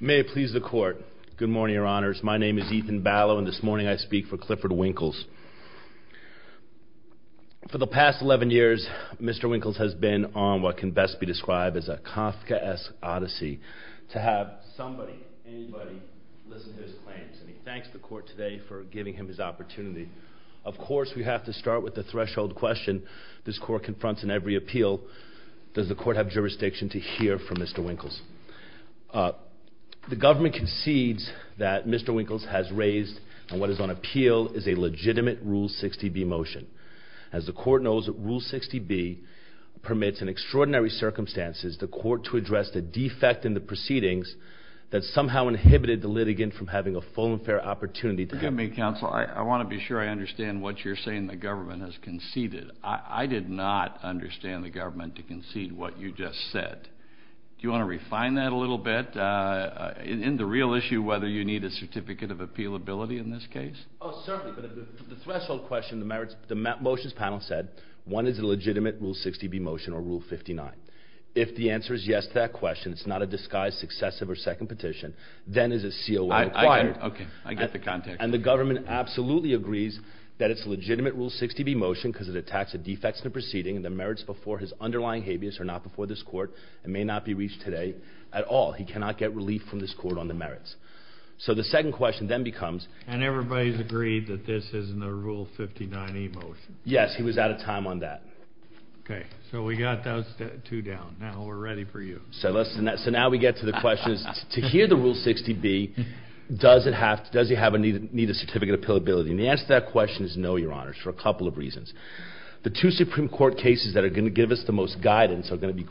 May it please the court. Good morning, your honors. My name is Ethan Ballow, and this morning I speak for Clifford Winkles. For the past 11 years, Mr. Winkles has been on what can best be described as a Kafka-esque odyssey. To have somebody, anybody, listen to his claims. And he thanks the court today for giving him his opportunity. Of course, we have to start with the threshold question this court confronts in every appeal. Does the court have jurisdiction to hear from Mr. Winkles? The government concedes that Mr. Winkles has raised on what is on appeal is a legitimate Rule 60B motion. As the court knows, Rule 60B permits in extraordinary circumstances the court to address the defect in the proceedings that somehow inhibited the litigant from having a full and fair opportunity to have... Look at me, counsel. I want to be sure I understand what you're saying the government has conceded. I did not understand the government to concede what you just said. Do you want to refine that a little bit in the real issue, whether you need a certificate of appealability in this case? Oh, certainly. But the threshold question, the motions panel said one is a legitimate Rule 60B motion or Rule 59. If the answer is yes to that question, it's not a disguised successive or second petition, then is a COO required. Okay, I get the context. And the government absolutely agrees that it's a legitimate Rule 60B motion because it attacks the defects in the proceeding and the merits before his underlying habeas are not before this court and may not be reached today at all. He cannot get relief from this court on the merits. So the second question then becomes... And everybody's agreed that this isn't a Rule 59E motion. Yes, he was out of time on that. Okay, so we got those two down. Now we're ready for you. So now we get to the question, to hear the Rule 60B, does he need a certificate of appealability? And the answer to that question is no, Your Honors, for a couple of reasons. The two Supreme Court cases that are going to give us the most guidance are going to be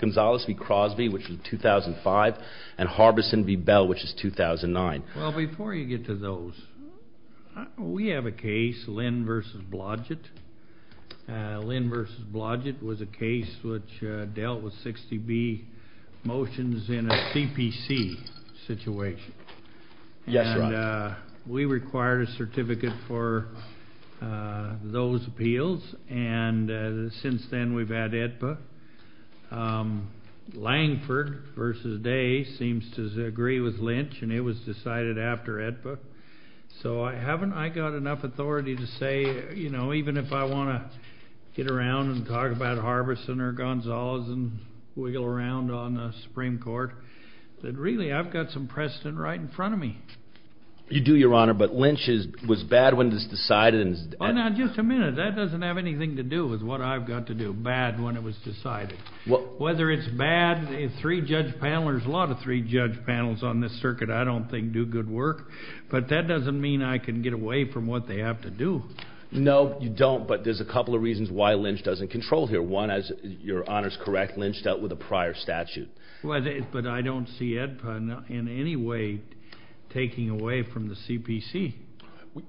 Gonzales v. Crosby, which is 2005, and Harbison v. Bell, which is 2009. Well, before you get to those, we have a case, Lynn v. Blodgett. Lynn v. Blodgett was a case which dealt with 60B motions in a CPC situation. Yes, Your Honor. And we required a certificate for those appeals, and since then we've had AEDPA. Langford v. Day seems to agree with Lynch, and it was decided after AEDPA. So I haven't got enough authority to say, you know, even if I want to get around and talk about Harbison or Gonzales and wiggle around on the Supreme Court, that really I've got some precedent right in front of me. You do, Your Honor, but Lynch was bad when it was decided. Now, just a minute. That doesn't have anything to do with what I've got to do, bad when it was decided. Whether it's bad, three judge panelers, a lot of three judge panels on this circuit I don't think do good work, but that doesn't mean I can get away from what they have to do. No, you don't, but there's a couple of reasons why Lynch doesn't control here. One, as Your Honor's correct, Lynch dealt with a prior statute. But I don't see AEDPA in any way taking away from the CPC.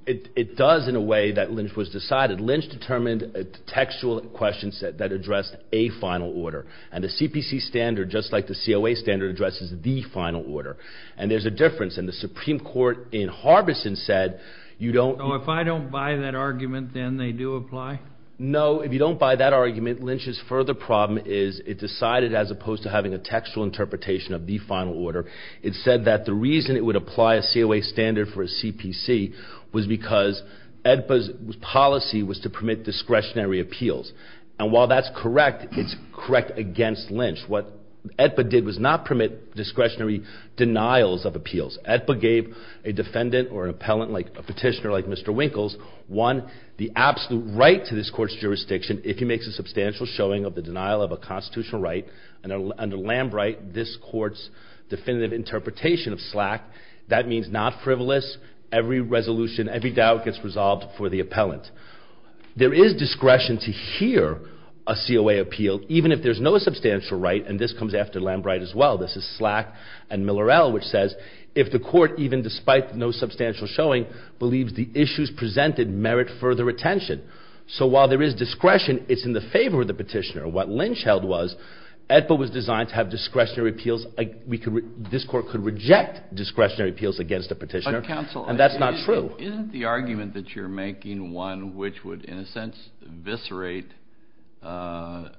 It does in a way that Lynch was decided. Lynch determined a textual question set that addressed a final order. And the CPC standard, just like the COA standard, addresses the final order. And there's a difference, and the Supreme Court in Harbison said you don't... So if I don't buy that argument, then they do apply? No, if you don't buy that argument, Lynch's further problem is it decided, as opposed to having a textual interpretation of the final order, it said that the reason it would apply a COA standard for a CPC was because AEDPA's policy was to permit discretionary appeals. And while that's correct, it's correct against Lynch. What AEDPA did was not permit discretionary denials of appeals. AEDPA gave a defendant or an appellant, a petitioner like Mr. Winkles, one, the absolute right to this court's jurisdiction if he makes a substantial showing of the denial of a constitutional right. And under Lambright, this court's definitive interpretation of SLAC, that means not frivolous, every resolution, every doubt gets resolved for the appellant. There is discretion to hear a COA appeal, even if there's no substantial right, and this comes after Lambright as well. This is SLAC and Miller-Ell, which says, if the court, even despite no substantial showing, believes the issues presented merit further attention. So while there is discretion, it's in the favor of the petitioner. And what Lynch held was AEDPA was designed to have discretionary appeals. This court could reject discretionary appeals against a petitioner, and that's not true. Isn't the argument that you're making one which would, in a sense, eviscerate the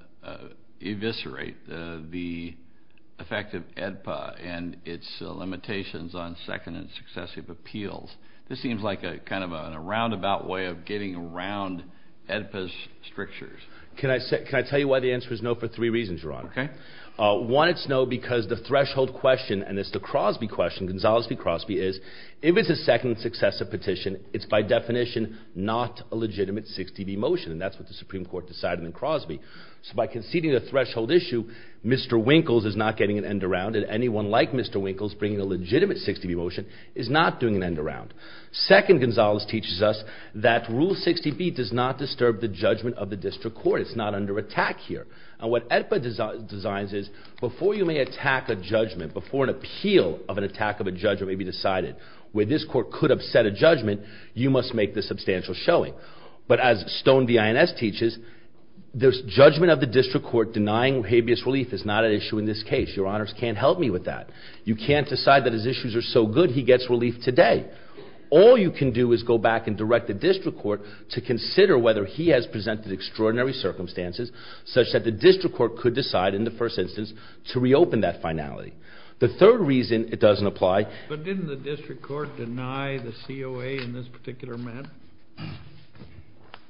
effect of AEDPA and its limitations on second and successive appeals? This seems like kind of a roundabout way of getting around AEDPA's strictures. Can I tell you why the answer is no for three reasons, Your Honor? Okay. One, it's no because the threshold question, and it's the Crosby question, Gonzales v. Crosby, is if it's a second and successive petition, it's by definition not a legitimate 60B motion. And that's what the Supreme Court decided in Crosby. So by conceding a threshold issue, Mr. Winkles is not getting an end around it. Anyone like Mr. Winkles bringing a legitimate 60B motion is not doing an end around. Second, Gonzales teaches us that Rule 60B does not disturb the judgment of the district court. It's not under attack here. And what AEDPA designs is before you may attack a judgment, before an appeal of an attack of a judgment may be decided, where this court could upset a judgment, you must make the substantial showing. But as Stone v. INS teaches, the judgment of the district court denying habeas relief is not an issue in this case. Your Honors can't help me with that. You can't decide that his issues are so good he gets relief today. All you can do is go back and direct the district court to consider whether he has presented extraordinary circumstances such that the district court could decide in the first instance to reopen that finality. The third reason it doesn't apply. But didn't the district court deny the COA in this particular matter?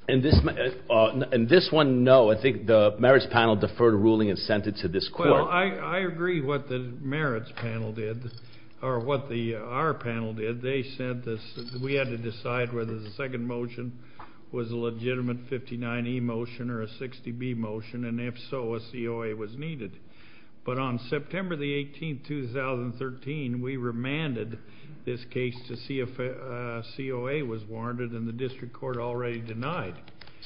In this one, no. I think the merits panel deferred a ruling and sent it to this court. Well, I agree what the merits panel did, or what our panel did. They said we had to decide whether the second motion was a legitimate 59E motion or a 60B motion, and if so, a COA was needed. But on September 18, 2013, we remanded this case to see if a COA was warranted, and the district court already denied.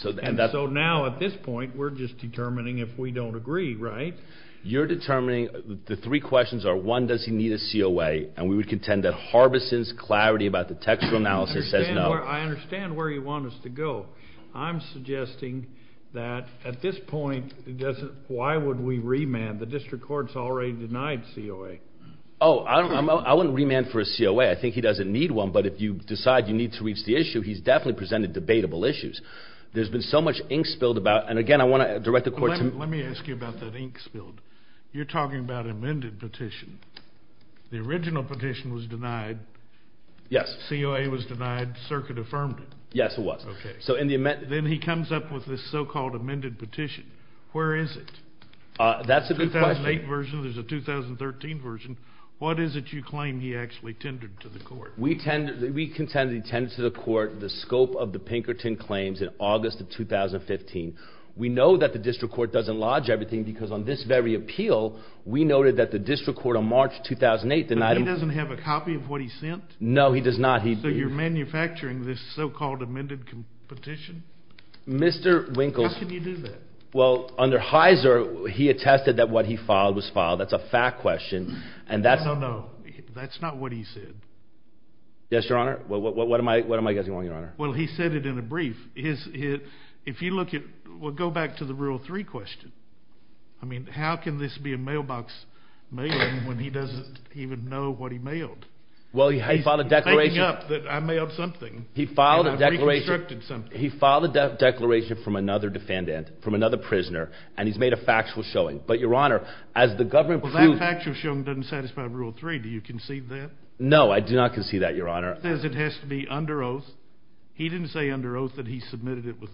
And so now at this point, we're just determining if we don't agree, right? You're determining the three questions are, one, does he need a COA, and we would contend that Harbison's clarity about the textual analysis says no. I understand where you want us to go. I'm suggesting that at this point, why would we remand? The district court's already denied COA. Oh, I wouldn't remand for a COA. I think he doesn't need one, but if you decide you need to reach the issue, he's definitely presented debatable issues. There's been so much ink spilled about it. Let me ask you about that ink spilled. You're talking about amended petition. The original petition was denied. Yes. COA was denied. Circuit affirmed it. Yes, it was. Okay. Then he comes up with this so-called amended petition. Where is it? That's a good question. 2008 version. There's a 2013 version. What is it you claim he actually tended to the court? We contend he tended to the court the scope of the Pinkerton claims in August of 2015. We know that the district court doesn't lodge everything because on this very appeal, we noted that the district court on March 2008 denied him. But he doesn't have a copy of what he sent? No, he does not. So you're manufacturing this so-called amended petition? Mr. Winkles. How can you do that? Well, under Heiser, he attested that what he filed was filed. That's a fact question. No, no, no. Yes, Your Honor. What am I guessing wrong, Your Honor? Well, he said it in a brief. If you look at it, we'll go back to the Rule 3 question. I mean, how can this be a mailbox mail-in when he doesn't even know what he mailed? Well, he filed a declaration. He's making up that I mailed something. He filed a declaration. And I've reconstructed something. He filed a declaration from another defendant, from another prisoner, and he's made a factual showing. But, Your Honor, as the government proves— Well, that factual showing doesn't satisfy Rule 3. Do you concede that? No, I do not concede that, Your Honor. He says it has to be under oath. He didn't say under oath that he submitted it with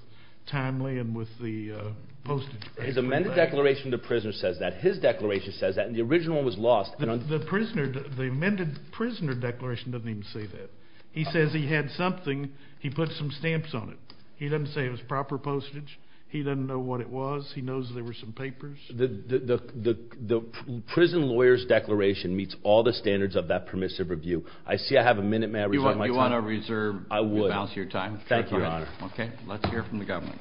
timely and with the postage. His amended declaration to prisoners says that. His declaration says that. And the original one was lost. The prisoner—the amended prisoner declaration doesn't even say that. He says he had something. He put some stamps on it. He doesn't say it was proper postage. He doesn't know what it was. He knows there were some papers. The prison lawyer's declaration meets all the standards of that permissive review. I see I have a minute. May I reserve my time? You want to reserve your time? I would. Thank you, Your Honor. Okay. Let's hear from the government.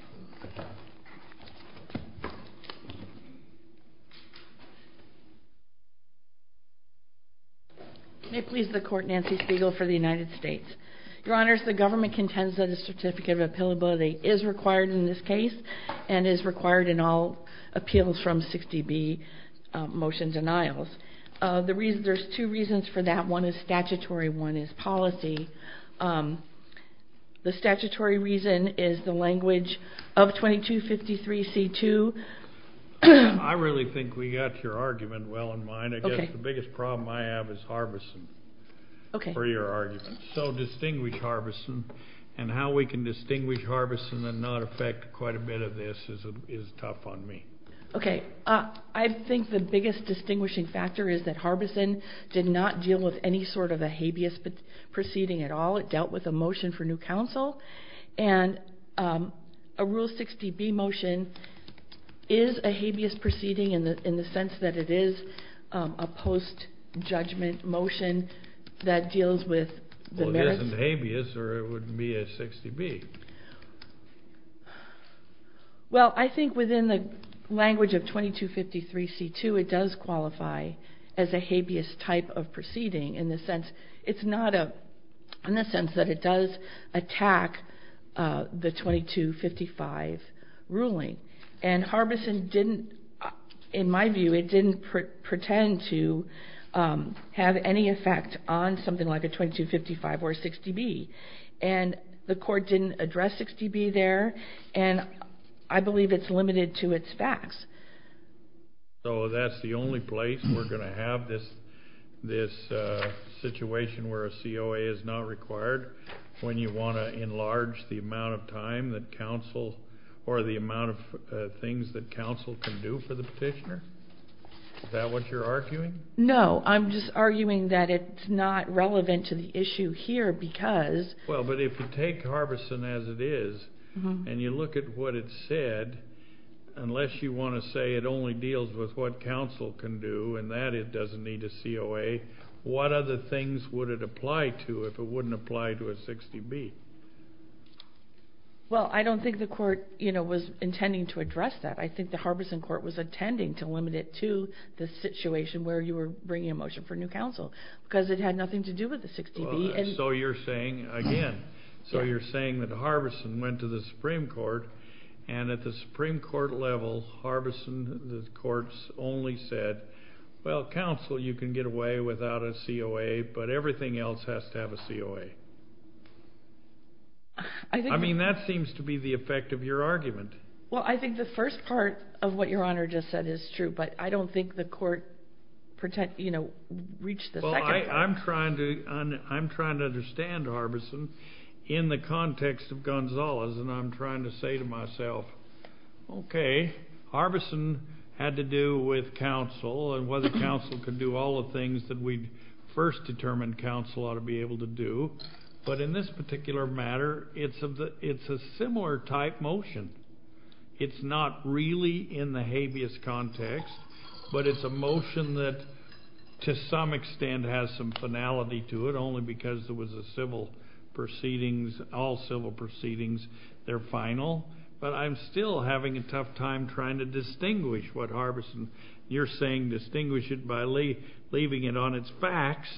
May it please the Court, Nancy Spiegel for the United States. Your Honors, the government contends that a certificate of appealability is required in this case and is required in all appeals from 60B motion denials. There's two reasons for that. One is statutory. One is policy. The statutory reason is the language of 2253C2. I really think we got your argument well in mind. I guess the biggest problem I have is Harbison for your argument. So distinguish Harbison and how we can distinguish Harbison and not affect quite a bit of this is tough on me. Okay. I think the biggest distinguishing factor is that Harbison did not deal with any sort of a habeas proceeding at all. It dealt with a motion for new counsel. And a Rule 60B motion is a habeas proceeding in the sense that it is a post-judgment motion that deals with the merits. Well, it isn't habeas or it wouldn't be a 60B. Well, I think within the language of 2253C2, it does qualify as a habeas type of proceeding in the sense it's not a in the sense that it does attack the 2255 ruling. And Harbison didn't, in my view, it didn't pretend to have any effect on something like a 2255 or a 60B. And the court didn't address 60B there, and I believe it's limited to its facts. So that's the only place we're going to have this situation where a COA is not required when you want to enlarge the amount of time that counsel or the amount of things that counsel can do for the petitioner? Is that what you're arguing? No. I'm just arguing that it's not relevant to the issue here because. Well, but if you take Harbison as it is and you look at what it said, unless you want to say it only deals with what counsel can do and that it doesn't need a COA, what other things would it apply to if it wouldn't apply to a 60B? Well, I don't think the court, you know, was intending to address that. I think the Harbison court was intending to limit it to the situation where you were bringing a motion for new counsel because it had nothing to do with the 60B. So you're saying, again, so you're saying that Harbison went to the Supreme Court and at the Supreme Court level, Harbison courts only said, well, counsel, you can get away without a COA, but everything else has to have a COA. I mean, that seems to be the effect of your argument. Well, I think the first part of what Your Honor just said is true, but I don't think the court, you know, reached the second part. I'm trying to understand Harbison in the context of Gonzalez, and I'm trying to say to myself, okay, Harbison had to do with counsel and whether counsel could do all the things that we first determined counsel ought to be able to do. But in this particular matter, it's a similar type motion. It's not really in the habeas context, but it's a motion that to some extent has some finality to it, only because there was a civil proceedings, all civil proceedings, they're final. But I'm still having a tough time trying to distinguish what Harbison, you're saying, distinguish it by leaving it on its facts.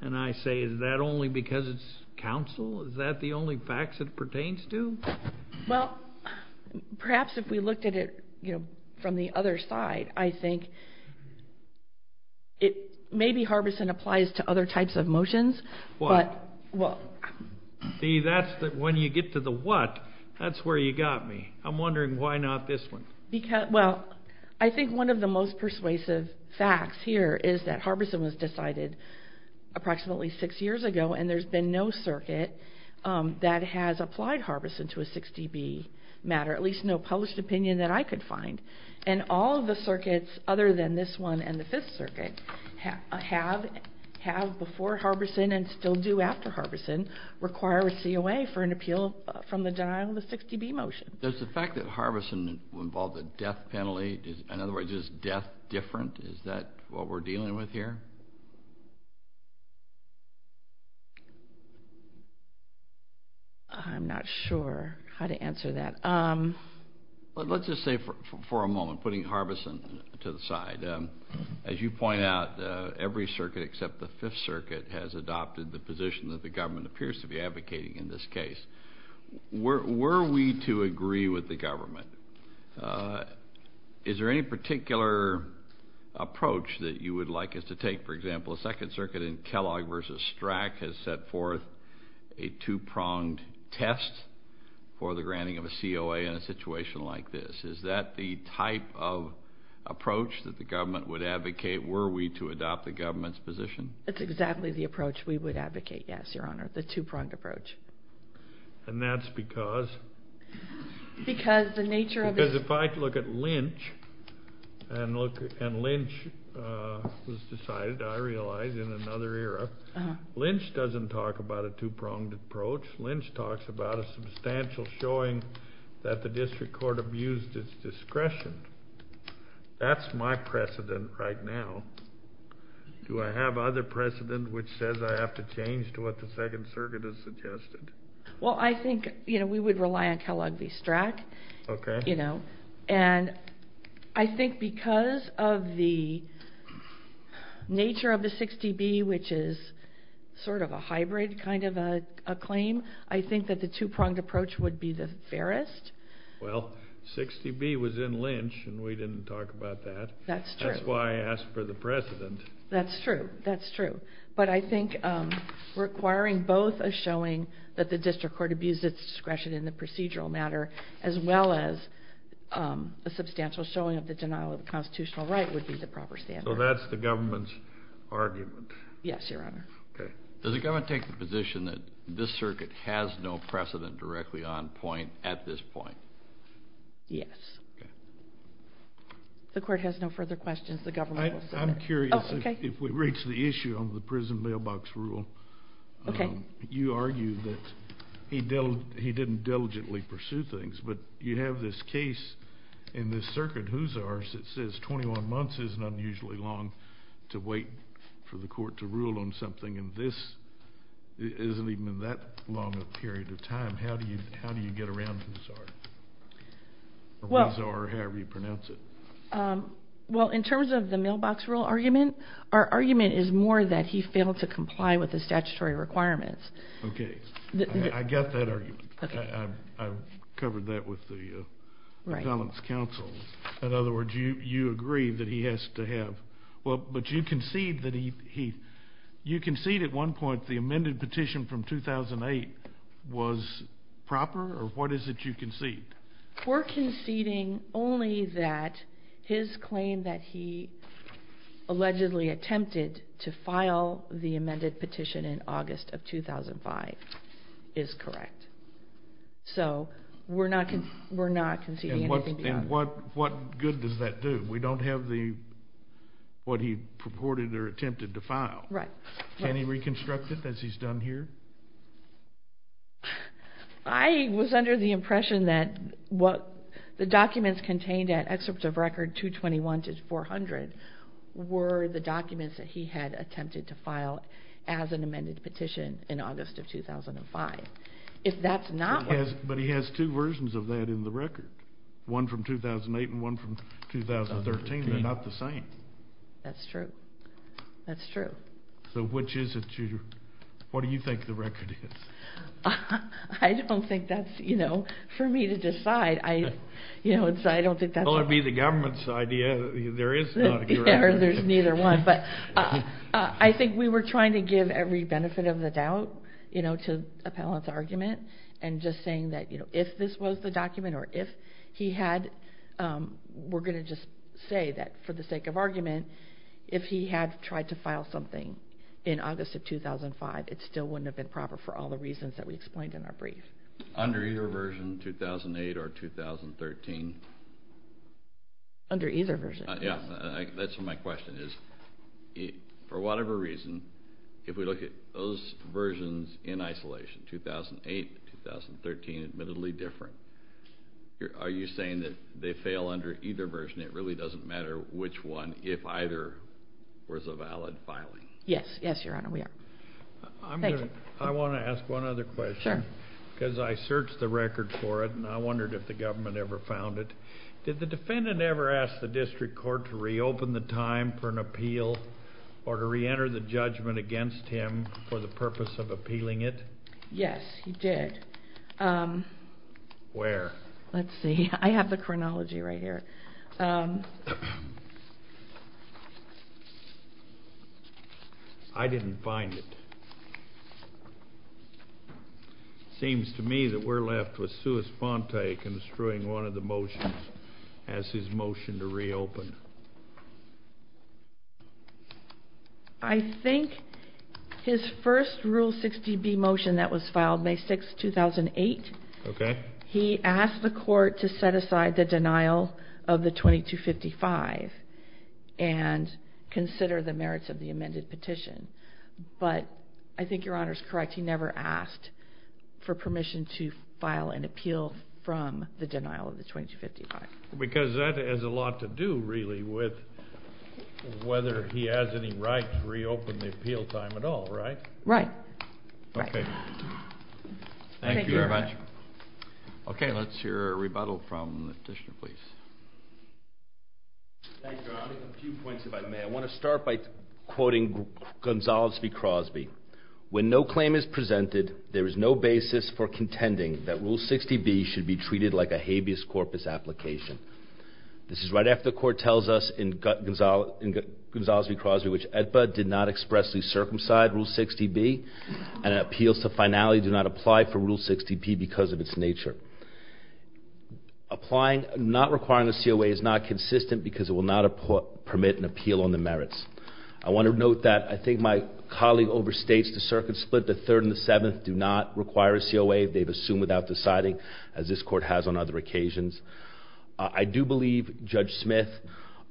And I say, is that only because it's counsel? Is that the only facts it pertains to? Well, perhaps if we looked at it, you know, from the other side, I think it, maybe Harbison applies to other types of motions. What? Well. See, that's the, when you get to the what, that's where you got me. I'm wondering why not this one? Because, well, I think one of the most persuasive facts here is that Harbison was decided approximately six years ago, and there's been no matter, at least no published opinion that I could find. And all of the circuits, other than this one and the Fifth Circuit, have before Harbison and still do after Harbison, require a COA for an appeal from the denial of the 60B motion. Does the fact that Harbison involved a death penalty, in other words, is death different? Is that what we're dealing with here? I'm not sure how to answer that. Well, let's just say for a moment, putting Harbison to the side. As you point out, every circuit except the Fifth Circuit has adopted the position that the government appears to be advocating in this case. Were we to agree with the government, is there any particular approach that you would like us to take to this? For example, the Second Circuit in Kellogg v. Strack has set forth a two-pronged test for the granting of a COA in a situation like this. Is that the type of approach that the government would advocate were we to adopt the government's position? That's exactly the approach we would advocate, yes, Your Honor, the two-pronged approach. And that's because if I look at Lynch, and Lynch was decided, I realize, in another era. Lynch doesn't talk about a two-pronged approach. Lynch talks about a substantial showing that the district court abused its discretion. That's my precedent right now. Do I have other precedent which says I have to change to what the Second Circuit has suggested? Well, I think we would rely on Kellogg v. Strack. Okay. And I think because of the nature of the 60B, which is sort of a hybrid kind of a claim, I think that the two-pronged approach would be the fairest. Well, 60B was in Lynch, and we didn't talk about that. That's true. That's true. That's true. But I think requiring both a showing that the district court abused its discretion in the procedural matter, as well as a substantial showing of the denial of the constitutional right would be the proper standard. So that's the government's argument? Yes, Your Honor. Okay. Does the government take the position that this circuit has no precedent directly on point at this point? Yes. Okay. The court has no further questions. The government will submit. I'm curious if we reach the issue on the prison mailbox rule. Okay. You argue that he didn't diligently pursue things, but you have this case in this circuit, Hoosars, that says 21 months isn't unusually long to wait for the court to rule on something, and this isn't even that long a period of time. How do you get around Hoosar, or Hoosar, or however you pronounce it? Well, in terms of the mailbox rule argument, our argument is more that he failed to comply with the statutory requirements. Okay. I got that argument. Okay. I've covered that with the violence counsel. In other words, you agree that he has to have. Well, but you concede that he, you concede at one point the amended petition from 2008 was proper? Or what is it you concede? We're conceding only that his claim that he allegedly attempted to file the amended petition in August of 2005 is correct. So we're not conceding anything beyond that. And what good does that do? We don't have what he purported or attempted to file. Right. Can he reconstruct it, as he's done here? I was under the impression that what the documents contained at excerpt of record 221 to 400 were the documents that he had attempted to file as an amended petition in August of 2005. If that's not what... But he has two versions of that in the record, one from 2008 and one from 2013. They're not the same. That's true. That's true. So which is it you... what do you think the record is? I don't think that's, you know, for me to decide. You know, I don't think that's... Well, it would be the government's idea that there is not a correct... There's neither one. But I think we were trying to give every benefit of the doubt, you know, to Appellant's argument and just saying that, you know, if this was the document or if he had... We're going to just say that for the sake of argument, if he had tried to file something in August of 2005, it still wouldn't have been proper for all the reasons that we explained in our brief. Under either version, 2008 or 2013? Under either version. Yeah, that's what my question is. For whatever reason, if we look at those versions in isolation, 2008, 2013, admittedly different, are you saying that they fail under either version? It really doesn't matter which one, if either was a valid filing. Yes. Yes, Your Honor, we are. I'm going to... Thank you. I want to ask one other question. Sure. Because I searched the record for it and I wondered if the government ever found it. Did the defendant ever ask the district court to reopen the time for an appeal or to reenter the judgment against him for the purpose of appealing it? Yes, he did. Where? Let's see. I have the chronology right here. I didn't find it. It seems to me that we're left with Sue Espontae construing one of the motions as his motion to reopen. I think his first Rule 60B motion that was filed May 6, 2008. Okay. He asked the court to set aside the denial of the 2255 and consider the merits of the amended petition. But I think Your Honor is correct. He never asked for permission to file an appeal from the denial of the 2255. Because that has a lot to do, really, with whether he has any right to reopen the appeal time at all, right? Right. Okay. Thank you very much. Okay, let's hear a rebuttal from the petitioner, please. Thank you, Your Honor. A few points, if I may. I want to start by quoting Gonzales v. Crosby. When no claim is presented, there is no basis for contending that Rule 60B should be treated like a habeas corpus application. This is right after the court tells us in Gonzales v. Crosby which AEDPA did not expressly circumcise Rule 60B and appeals to finality do not apply for Rule 60B because of its nature. Applying, not requiring a COA is not consistent because it will not permit an appeal on the merits. I want to note that I think my colleague overstates the circuit split. The third and the seventh do not require a COA. They've assumed without deciding, as this court has on other occasions. I do believe, Judge Smith,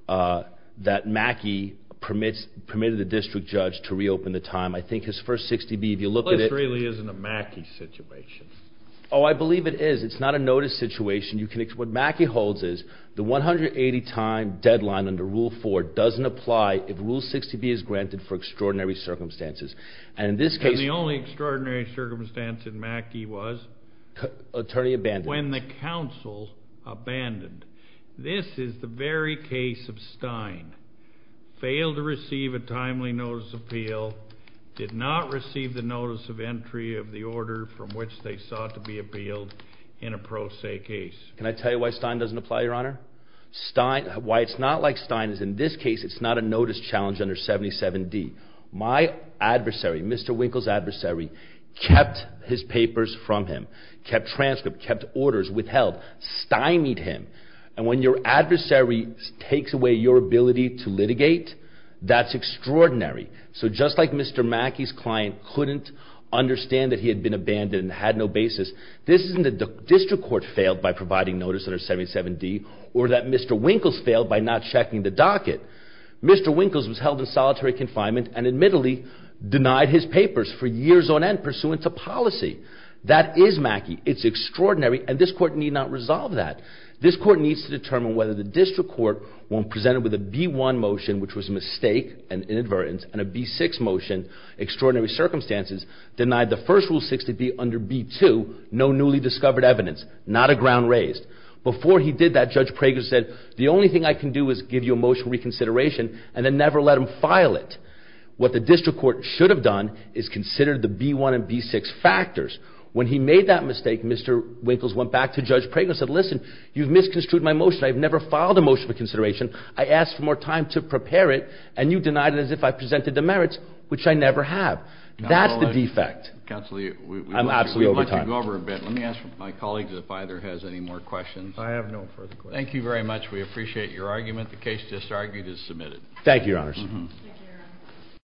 that Mackey permitted the district judge to reopen the time. I think his first 60B, if you look at it This really isn't a Mackey situation. Oh, I believe it is. It's not a notice situation. What Mackey holds is the 180-time deadline under Rule 4 doesn't apply if Rule 60B is granted for extraordinary circumstances. And in this case And the only extraordinary circumstance in Mackey was Attorney abandoned When the counsel abandoned. This is the very case of Stein. Failed to receive a timely notice of appeal. Did not receive the notice of entry of the order from which they sought to be appealed in a pro se case. Can I tell you why Stein doesn't apply, Your Honor? Why it's not like Stein is in this case it's not a notice challenge under 77D. My adversary, Mr. Winkle's adversary, kept his papers from him. Kept transcripts, kept orders, withheld. Steinied him. And when your adversary takes away your ability to litigate, that's extraordinary. So just like Mr. Mackey's client couldn't understand that he had been abandoned and had no basis This isn't that the district court failed by providing notice under 77D Or that Mr. Winkle's failed by not checking the docket. Mr. Winkle's was held in solitary confinement and admittedly denied his papers for years on end pursuant to policy. That is Mackey. It's extraordinary and this court need not resolve that. This court needs to determine whether the district court when presented with a B-1 motion Which was a mistake, an inadvertence, and a B-6 motion, extraordinary circumstances Denied the first rule 60B under B-2, no newly discovered evidence, not a ground raised. Before he did that, Judge Prager said the only thing I can do is give you a motion reconsideration And then never let him file it. What the district court should have done is considered the B-1 and B-6 factors. When he made that mistake, Mr. Winkle's went back to Judge Prager and said Listen, you've misconstrued my motion, I've never filed a motion for consideration I asked for more time to prepare it and you denied it as if I presented the merits, which I never have. That's the defect. I'm absolutely over time. Let me ask my colleagues if either has any more questions. I have no further questions. Thank you very much, we appreciate your argument. The case just argued is submitted. Thank you, your honors.